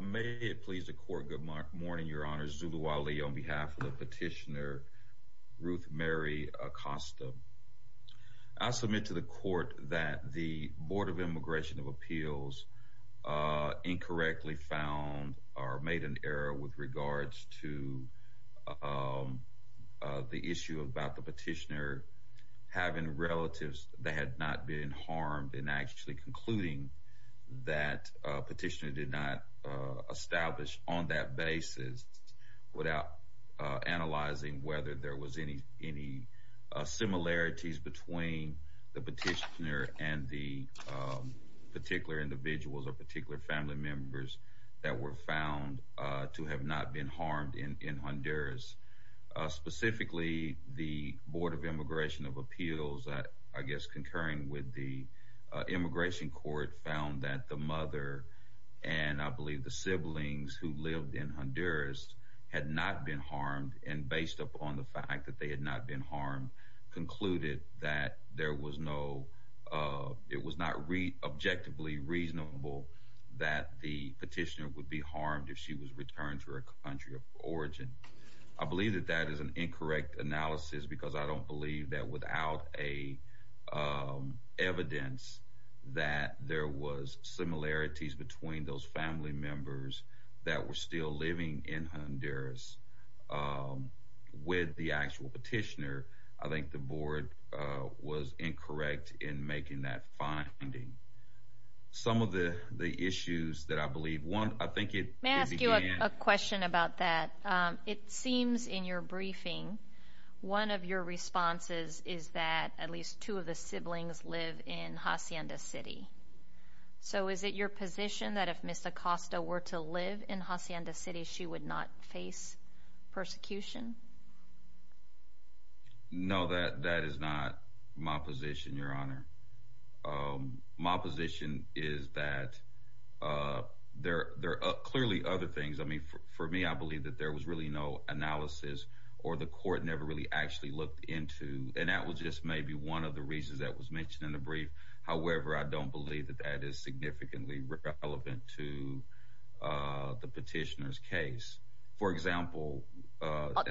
May it please the court. Good morning, Your Honor. Zulu Ali on behalf of the petitioner, Ruth Mary Acosta. I submit to the court that the Board of Immigration of Appeals incorrectly found or made an error with regards to the issue about the petitioner having relatives that had not been harmed and actually concluding that petitioner did not establish on that basis without analyzing whether there was any similarities between the petitioner and the particular individuals or particular family members that were found to have not been harmed in Honduras. Specifically, the Board of Immigration of Appeals, I guess, concurring with the immigration court, found that the mother and I believe the siblings who lived in Honduras had not been harmed and based upon the fact that they had not been harmed, concluded that there was no, it was not objectively reasonable that the petitioner would be harmed if she was returned to her country of origin. I believe that that is an incorrect analysis because I don't believe that without a evidence that there was similarities between those family members that were still living in Honduras with the actual petitioner, I think the board was incorrect in making that finding. Some of the issues that I believe, one, I think it began... May I ask you a question about that? It seems in your briefing, one of your responses is that at least two of the siblings live in Hacienda City. So is it your position that if Ms. Acosta were to live in Hacienda City, she would not face persecution? No, that is not my position, Your Honor. My position is that there are clearly other things. I mean, for me, I believe that there was really no analysis or the court never really actually looked into, and that was just maybe one of the reasons that was mentioned in the brief. However, I don't believe that that is significantly relevant to the petitioner's case. For example...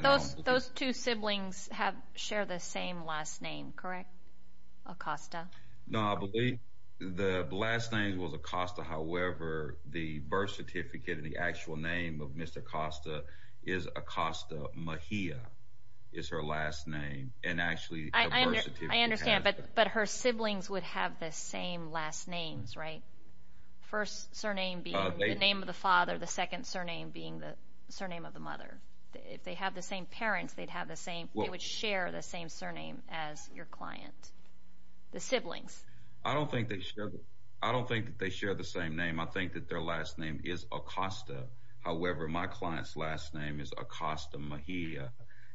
Those two siblings share the same last name, correct, Acosta? No, I believe the last name was Acosta. However, the birth certificate and the actual name of Ms. Acosta is Acosta Mejia is her last name, and actually... I understand, but her siblings would have the same last names, right? First surname being the name of the father, the second surname being the surname of the mother. If they have the same parents, they would share the same surname as your client. The siblings. I don't think that they share the same name. I think that their last name is Acosta. However, my client's last name is Acosta Mejia.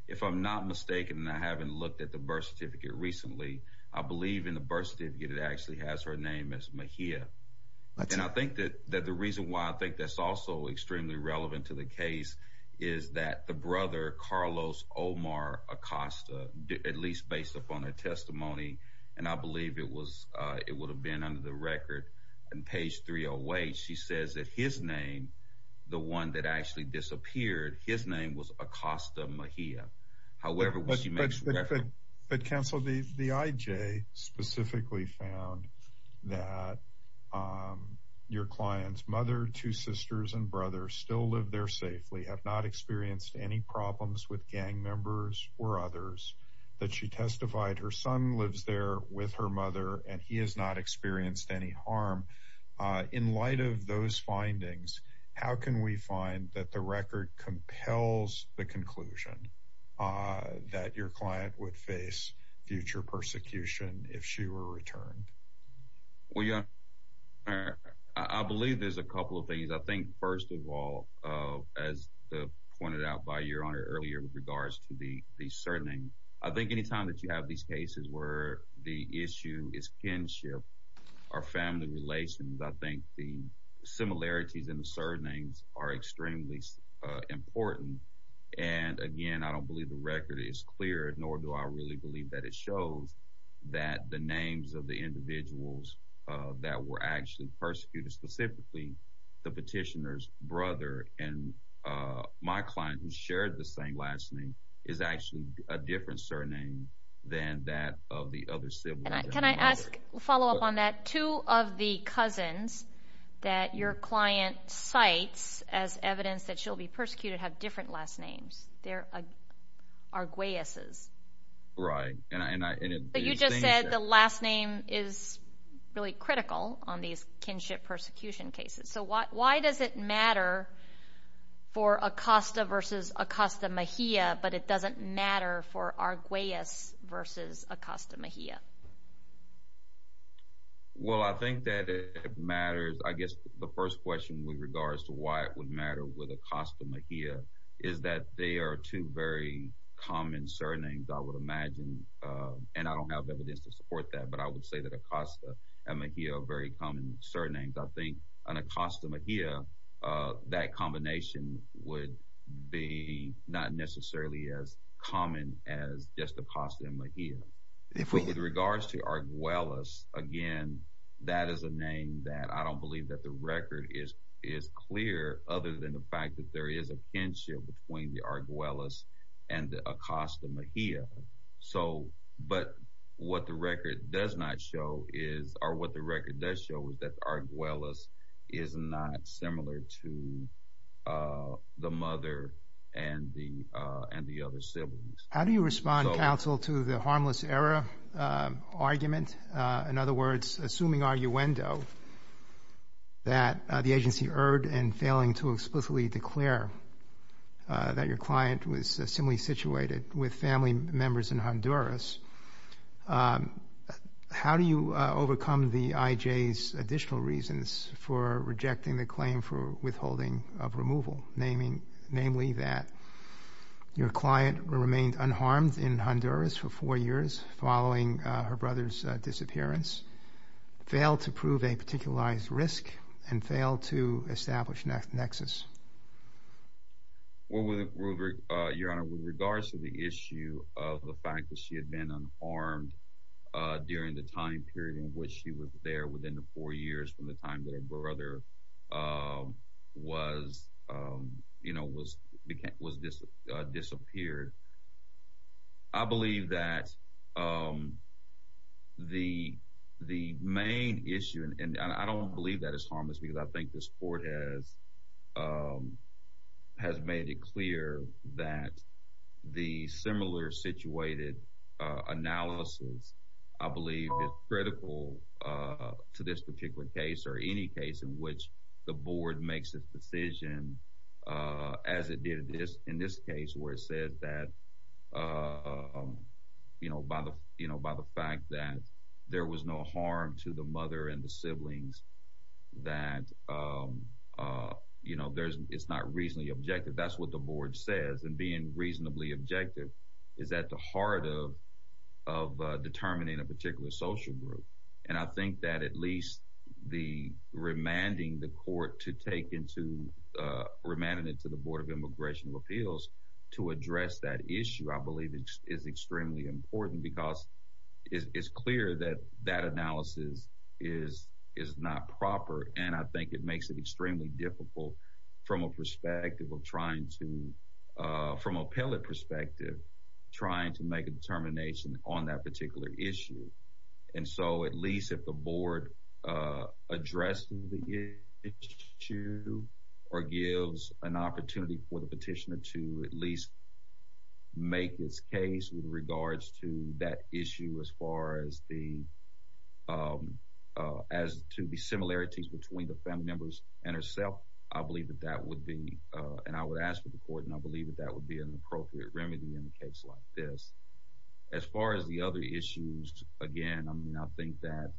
If I'm not mistaken, and I haven't looked at the birth certificate recently, I believe in the birth certificate it actually has her name as Mejia. And I think that the reason why I think that's also extremely relevant to the case is that the brother, Carlos Omar Acosta, at least based upon her testimony, and I believe it would have been under the record on page 308, she says that his name, the one that actually disappeared, his name was Acosta Mejia. But counsel, the IJ specifically found that your client's mother, two sisters, and brother still live there safely, have not experienced any problems with gang members or others. That she testified her son lives there with her mother, and he has not experienced any harm. In light of those findings, how can we find that the record compels the conclusion that your client would face future persecution if she were returned? I believe there's a couple of things. I think first of all, as pointed out by your honor earlier with regards to the surname, I think anytime that you have these cases where the issue is kinship or family relations, I think the similarities in the surnames are extremely important. And again, I don't believe the record is clear, nor do I really believe that it shows that the names of the individuals that were actually persecuted, specifically the petitioner's brother and my client who shared the same last name, is actually a different surname than that of the other siblings. Can I follow up on that? Two of the cousins that your client cites as evidence that she'll be persecuted have different last names. They're Arguelles'. Right. But you just said the last name is really critical on these kinship persecution cases. So why does it matter for Acosta versus Acosta Mejia, but it doesn't matter for Arguelles' versus Acosta Mejia? Well, I think that it matters. I guess the first question with regards to why it would matter with Acosta Mejia is that they are two very common surnames, I would imagine. And I don't have evidence to support that, but I would say that Acosta and Mejia are very common surnames. I think an Acosta Mejia, that combination would be not necessarily as common as just Acosta and Mejia. With regards to Arguelles, again, that is a name that I don't believe that the record is clear, other than the fact that there is a kinship between the Arguelles and the Acosta Mejia. But what the record does not show is, or what the record does show is that Arguelles is not similar to the mother and the other siblings. How do you respond, counsel, to the harmless error argument? In other words, assuming arguendo, that the agency erred in failing to explicitly declare that your client was similarly situated with family members in Honduras, how do you overcome the IJ's additional reasons for rejecting the claim for withholding of removal, namely that your client remained unharmed in Honduras for four years following her brother's disappearance, failed to prove a particularized risk, and failed to establish nexus? Well, Your Honor, with regards to the issue of the fact that she had been unharmed during the time period in which she was there, within the four years from the time that her brother was disappeared, I believe that the main issue, and I don't believe that it's harmless, because I think this Court has made it clear that the similar-situated analysis, I believe, is critical to this particular case, or any case in which the Board makes a decision, as it did in this case, where it said that by the fact that there was no harm to the mother and the siblings, that it's not reasonably objective. That's what the Board says, and being reasonably objective is at the heart of determining a particular social group. And I think that at least the remanding the Court to take into—remanding it to the Board of Immigration of Appeals to address that issue, I believe, is extremely important because it's clear that that analysis is not proper, and I think it makes it extremely difficult from a perspective of trying to—from a pellet perspective, trying to make a determination on that particular issue. And so, at least if the Board addresses the issue or gives an opportunity for the petitioner to at least make its case with regards to that issue, as far as the—as to the similarities between the family members and herself, I believe that that would be—and I would ask for the Court, and I believe that that would be an appropriate remedy in a case like this. As far as the other issues, again, I mean, I think that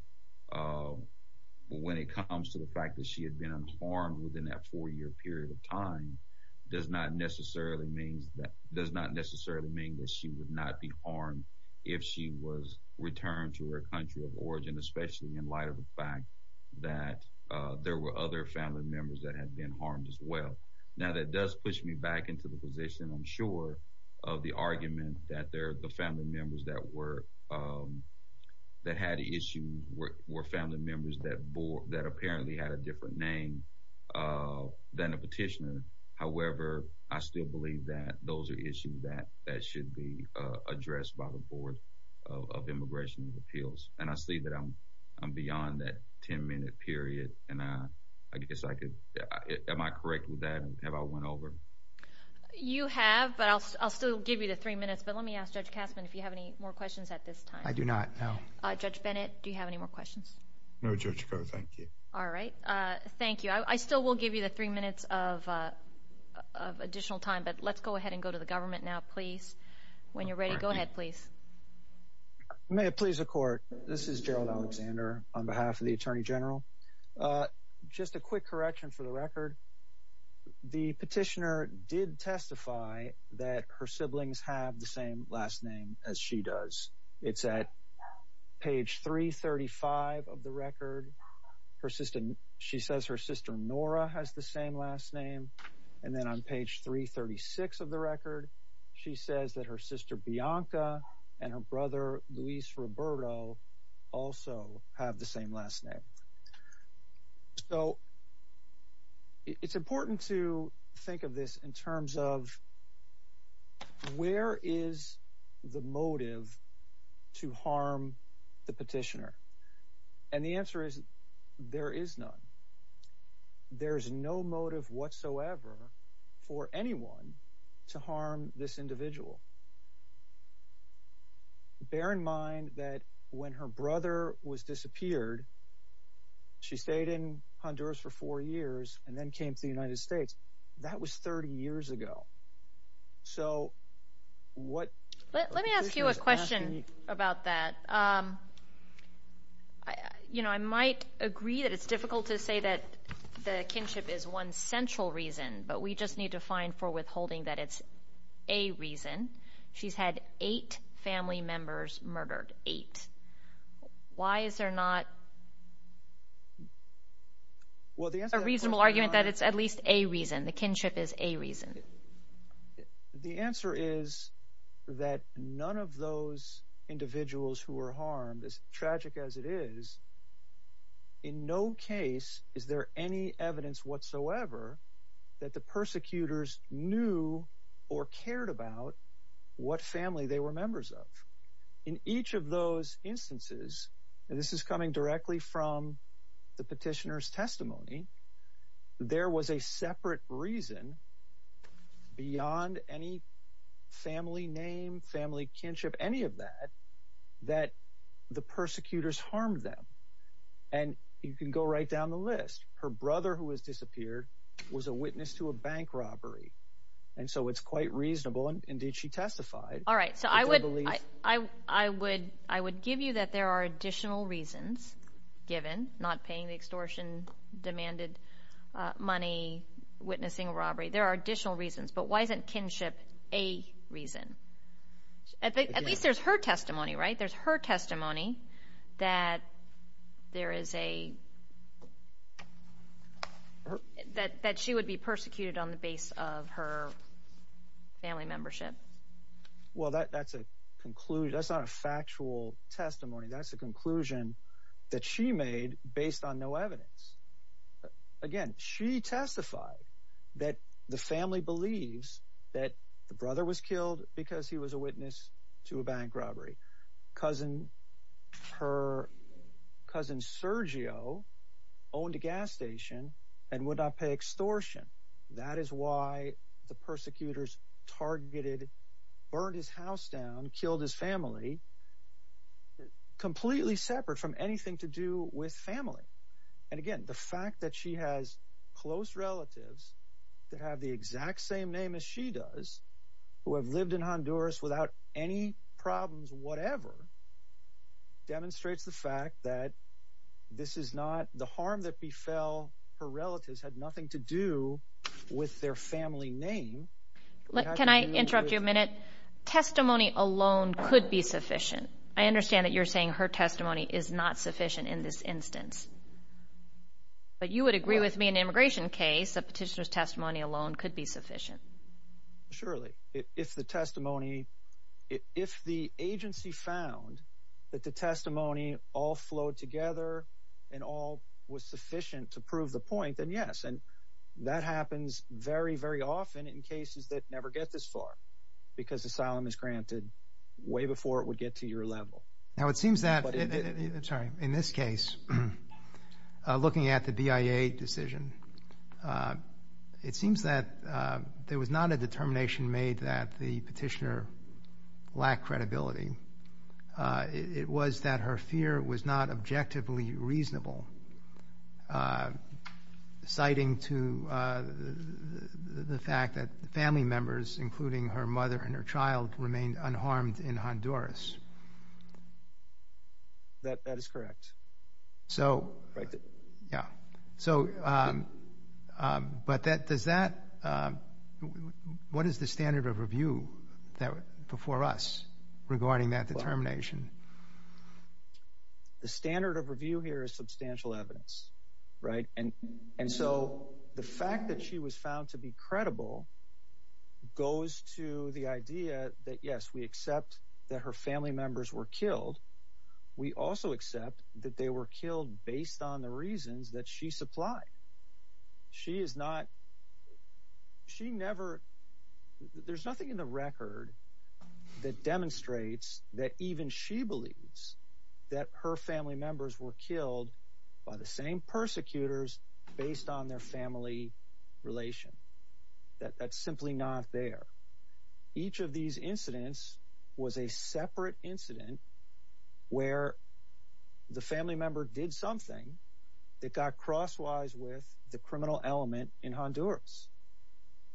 when it comes to the fact that she had been unharmed within that four-year period of time does not necessarily mean that she would not be harmed if she was returned to her country of origin, especially in light of the fact that there were other family members that had been harmed as well. Now, that does push me back into the position, I'm sure, of the argument that the family members that were—that had issues were family members that apparently had a different name than the petitioner. However, I still believe that those are issues that should be addressed by the Board of Immigration of Appeals, and I see that I'm beyond that 10-minute period, and I guess I could—am I correct with that? Have I went over? You have, but I'll still give you the three minutes, but let me ask Judge Kasman if you have any more questions at this time. I do not, no. Judge Bennett, do you have any more questions? No, Judge Ko, thank you. All right. Thank you. I still will give you the three minutes of additional time, but let's go ahead and go to the government now, please. When you're ready, go ahead, please. May it please the Court, this is Gerald Alexander on behalf of the Attorney General. Just a quick correction for the record. The petitioner did testify that her siblings have the same last name as she does. It's at page 335 of the record. She says her sister Nora has the same last name, and then on page 336 of the record, she says that her sister Bianca and her brother Luis Roberto also have the same last name. So it's important to think of this in terms of where is the motive to harm the petitioner? And the answer is there is none. There is no motive whatsoever for anyone to harm this individual. Bear in mind that when her brother was disappeared, she stayed in Honduras for four years and then came to the United States. That was 30 years ago. So what the petitioner is asking- Let me ask you a question about that. You know, I might agree that it's difficult to say that the kinship is one central reason, but we just need to find for withholding that it's a reason. She's had eight family members murdered, eight. Why is there not a reasonable argument that it's at least a reason, the kinship is a reason? The answer is that none of those individuals who were harmed, as tragic as it is, in no case is there any evidence whatsoever that the persecutors knew or cared about what family they were members of. In each of those instances, and this is coming directly from the petitioner's testimony, there was a separate reason beyond any family name, family kinship, any of that, that the persecutors harmed them. And you can go right down the list. Her brother who was disappeared was a witness to a bank robbery, and so it's quite reasonable. Indeed, she testified. All right, so I would give you that there are additional reasons given, not paying the extortion demanded money, witnessing a robbery. There are additional reasons, but why isn't kinship a reason? At least there's her testimony, right? That she would be persecuted on the base of her family membership. Well, that's a conclusion. That's not a factual testimony. That's a conclusion that she made based on no evidence. Again, she testified that the family believes that the brother was killed because he was a witness to a bank robbery. Cousin Sergio owned a gas station and would not pay extortion. That is why the persecutors targeted, burned his house down, killed his family, completely separate from anything to do with family. And again, the fact that she has close relatives that have the exact same name as she does, who have lived in Honduras without any problems whatever, demonstrates the fact that the harm that befell her relatives had nothing to do with their family name. Can I interrupt you a minute? Testimony alone could be sufficient. I understand that you're saying her testimony is not sufficient in this instance, but you would agree with me in an immigration case that petitioner's testimony alone could be sufficient. Surely. If the testimony, if the agency found that the testimony all flowed together and all was sufficient to prove the point, then yes. And that happens very, very often in cases that never get this far because asylum is granted way before it would get to your level. Now, it seems that in this case, looking at the BIA decision, it seems that there was not a determination made that the petitioner lacked credibility. It was that her fear was not objectively reasonable, citing to the fact that the family members, including her mother and her child, remained unharmed in Honduras. That is correct. So, yeah. So, but does that, what is the standard of review before us regarding that determination? The standard of review here is substantial evidence, right? And so the fact that she was found to be credible goes to the idea that, yes, we accept that her family members were killed. We also accept that they were killed based on the reasons that she supplied. She is not, she never, there's nothing in the record that demonstrates that even she believes that her family members were killed by the same persecutors based on their family relation. That's simply not there. Each of these incidents was a separate incident where the family member did something that got crosswise with the criminal element in Honduras.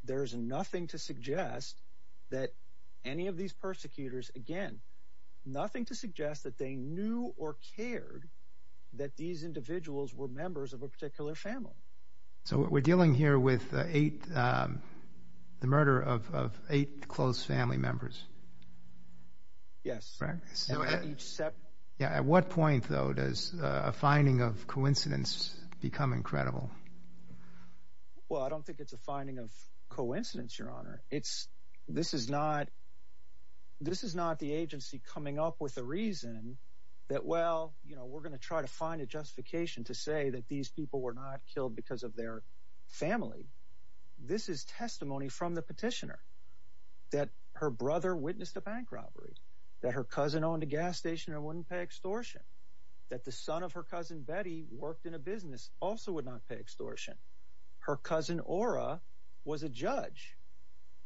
There is nothing to suggest that any of these persecutors, again, nothing to suggest that they knew or cared that these individuals were members of a particular family. So we're dealing here with the murder of eight close family members. Yes. At what point, though, does a finding of coincidence become incredible? Well, I don't think it's a finding of coincidence, Your Honor. This is not the agency coming up with a reason that, well, we're going to try to find a justification to say that these people were not killed because of their family. This is testimony from the petitioner that her brother witnessed a bank robbery, that her cousin owned a gas station and wouldn't pay extortion, that the son of her cousin, Betty, worked in a business, also would not pay extortion. Her cousin, Ora, was a judge.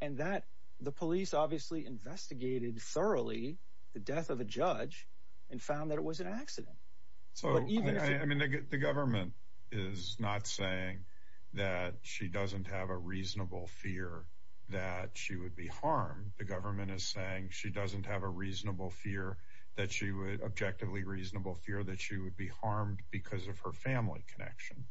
And that the police obviously investigated thoroughly the death of a judge and found that it was an accident. So, I mean, the government is not saying that she doesn't have a reasonable fear that she would be harmed. The government is saying she doesn't have a reasonable fear, an objectively reasonable fear that she would be harmed because of her family connection.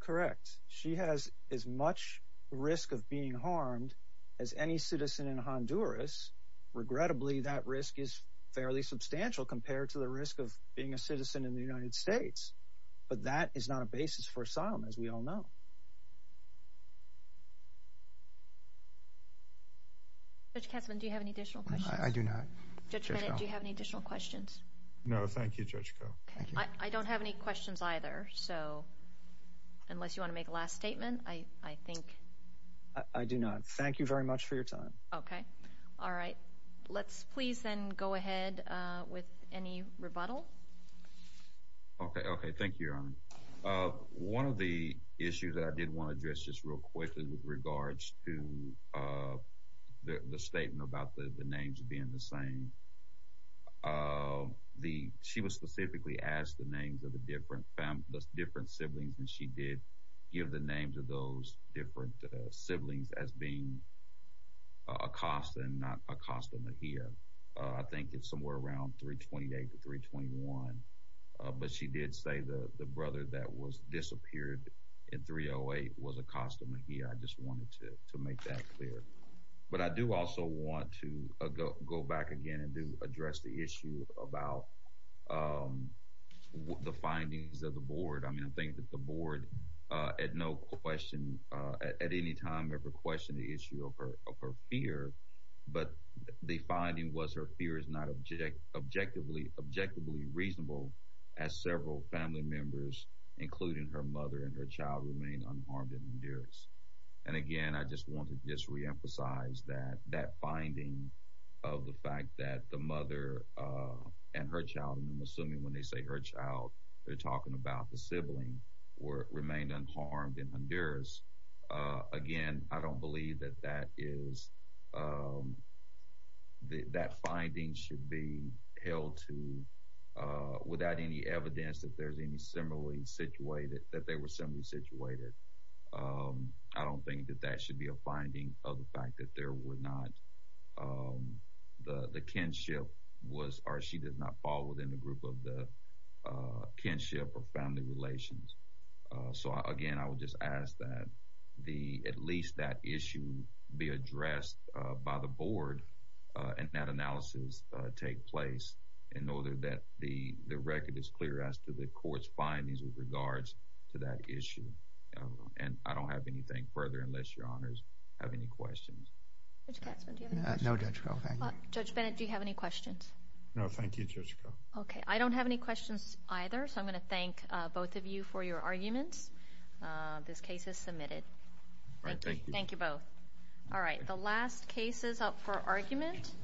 Correct. She has as much risk of being harmed as any citizen in Honduras. Regrettably, that risk is fairly substantial compared to the risk of being a citizen in the United States. But that is not a basis for asylum, as we all know. Judge Kesslman, do you have any additional questions? I do not. Judge Bennett, do you have any additional questions? No, thank you, Judge Koh. I don't have any questions either, so unless you want to make a last statement, I think. I do not. Thank you very much for your time. Okay. All right. Let's please then go ahead with any rebuttal. Okay, okay. Thank you, Your Honor. One of the issues that I did want to address just real quickly with regards to the statement about the names being the same, she was specifically asked the names of the different siblings, and she did give the names of those different siblings as being Acosta and not Acosta Mejia. I think it's somewhere around 328 to 321. But she did say the brother that disappeared in 308 was Acosta Mejia. I just wanted to make that clear. But I do also want to go back again and address the issue about the findings of the board. I mean, I think that the board at no question at any time ever questioned the issue of her fear, but the finding was her fear is not objectively reasonable as several family members, including her mother and her child, remain unharmed and endeared. And again, I just want to just reemphasize that finding of the fact that the mother and her child, and I'm assuming when they say her child, they're talking about the sibling, remained unharmed and endeared. Again, I don't believe that that finding should be held to without any evidence that they were similarly situated. I don't think that that should be a finding of the fact that there were not— in the group of the kinship or family relations. So again, I would just ask that at least that issue be addressed by the board and that analysis take place in order that the record is clear as to the court's findings with regards to that issue. And I don't have anything further unless Your Honors have any questions. Judge Katzman, do you have any questions? No, Judge Koh, thank you. Judge Bennett, do you have any questions? No, thank you, Judge Koh. Okay, I don't have any questions either, so I'm going to thank both of you for your arguments. This case is submitted. Thank you. Thank you both. All right, the last case is up for argument.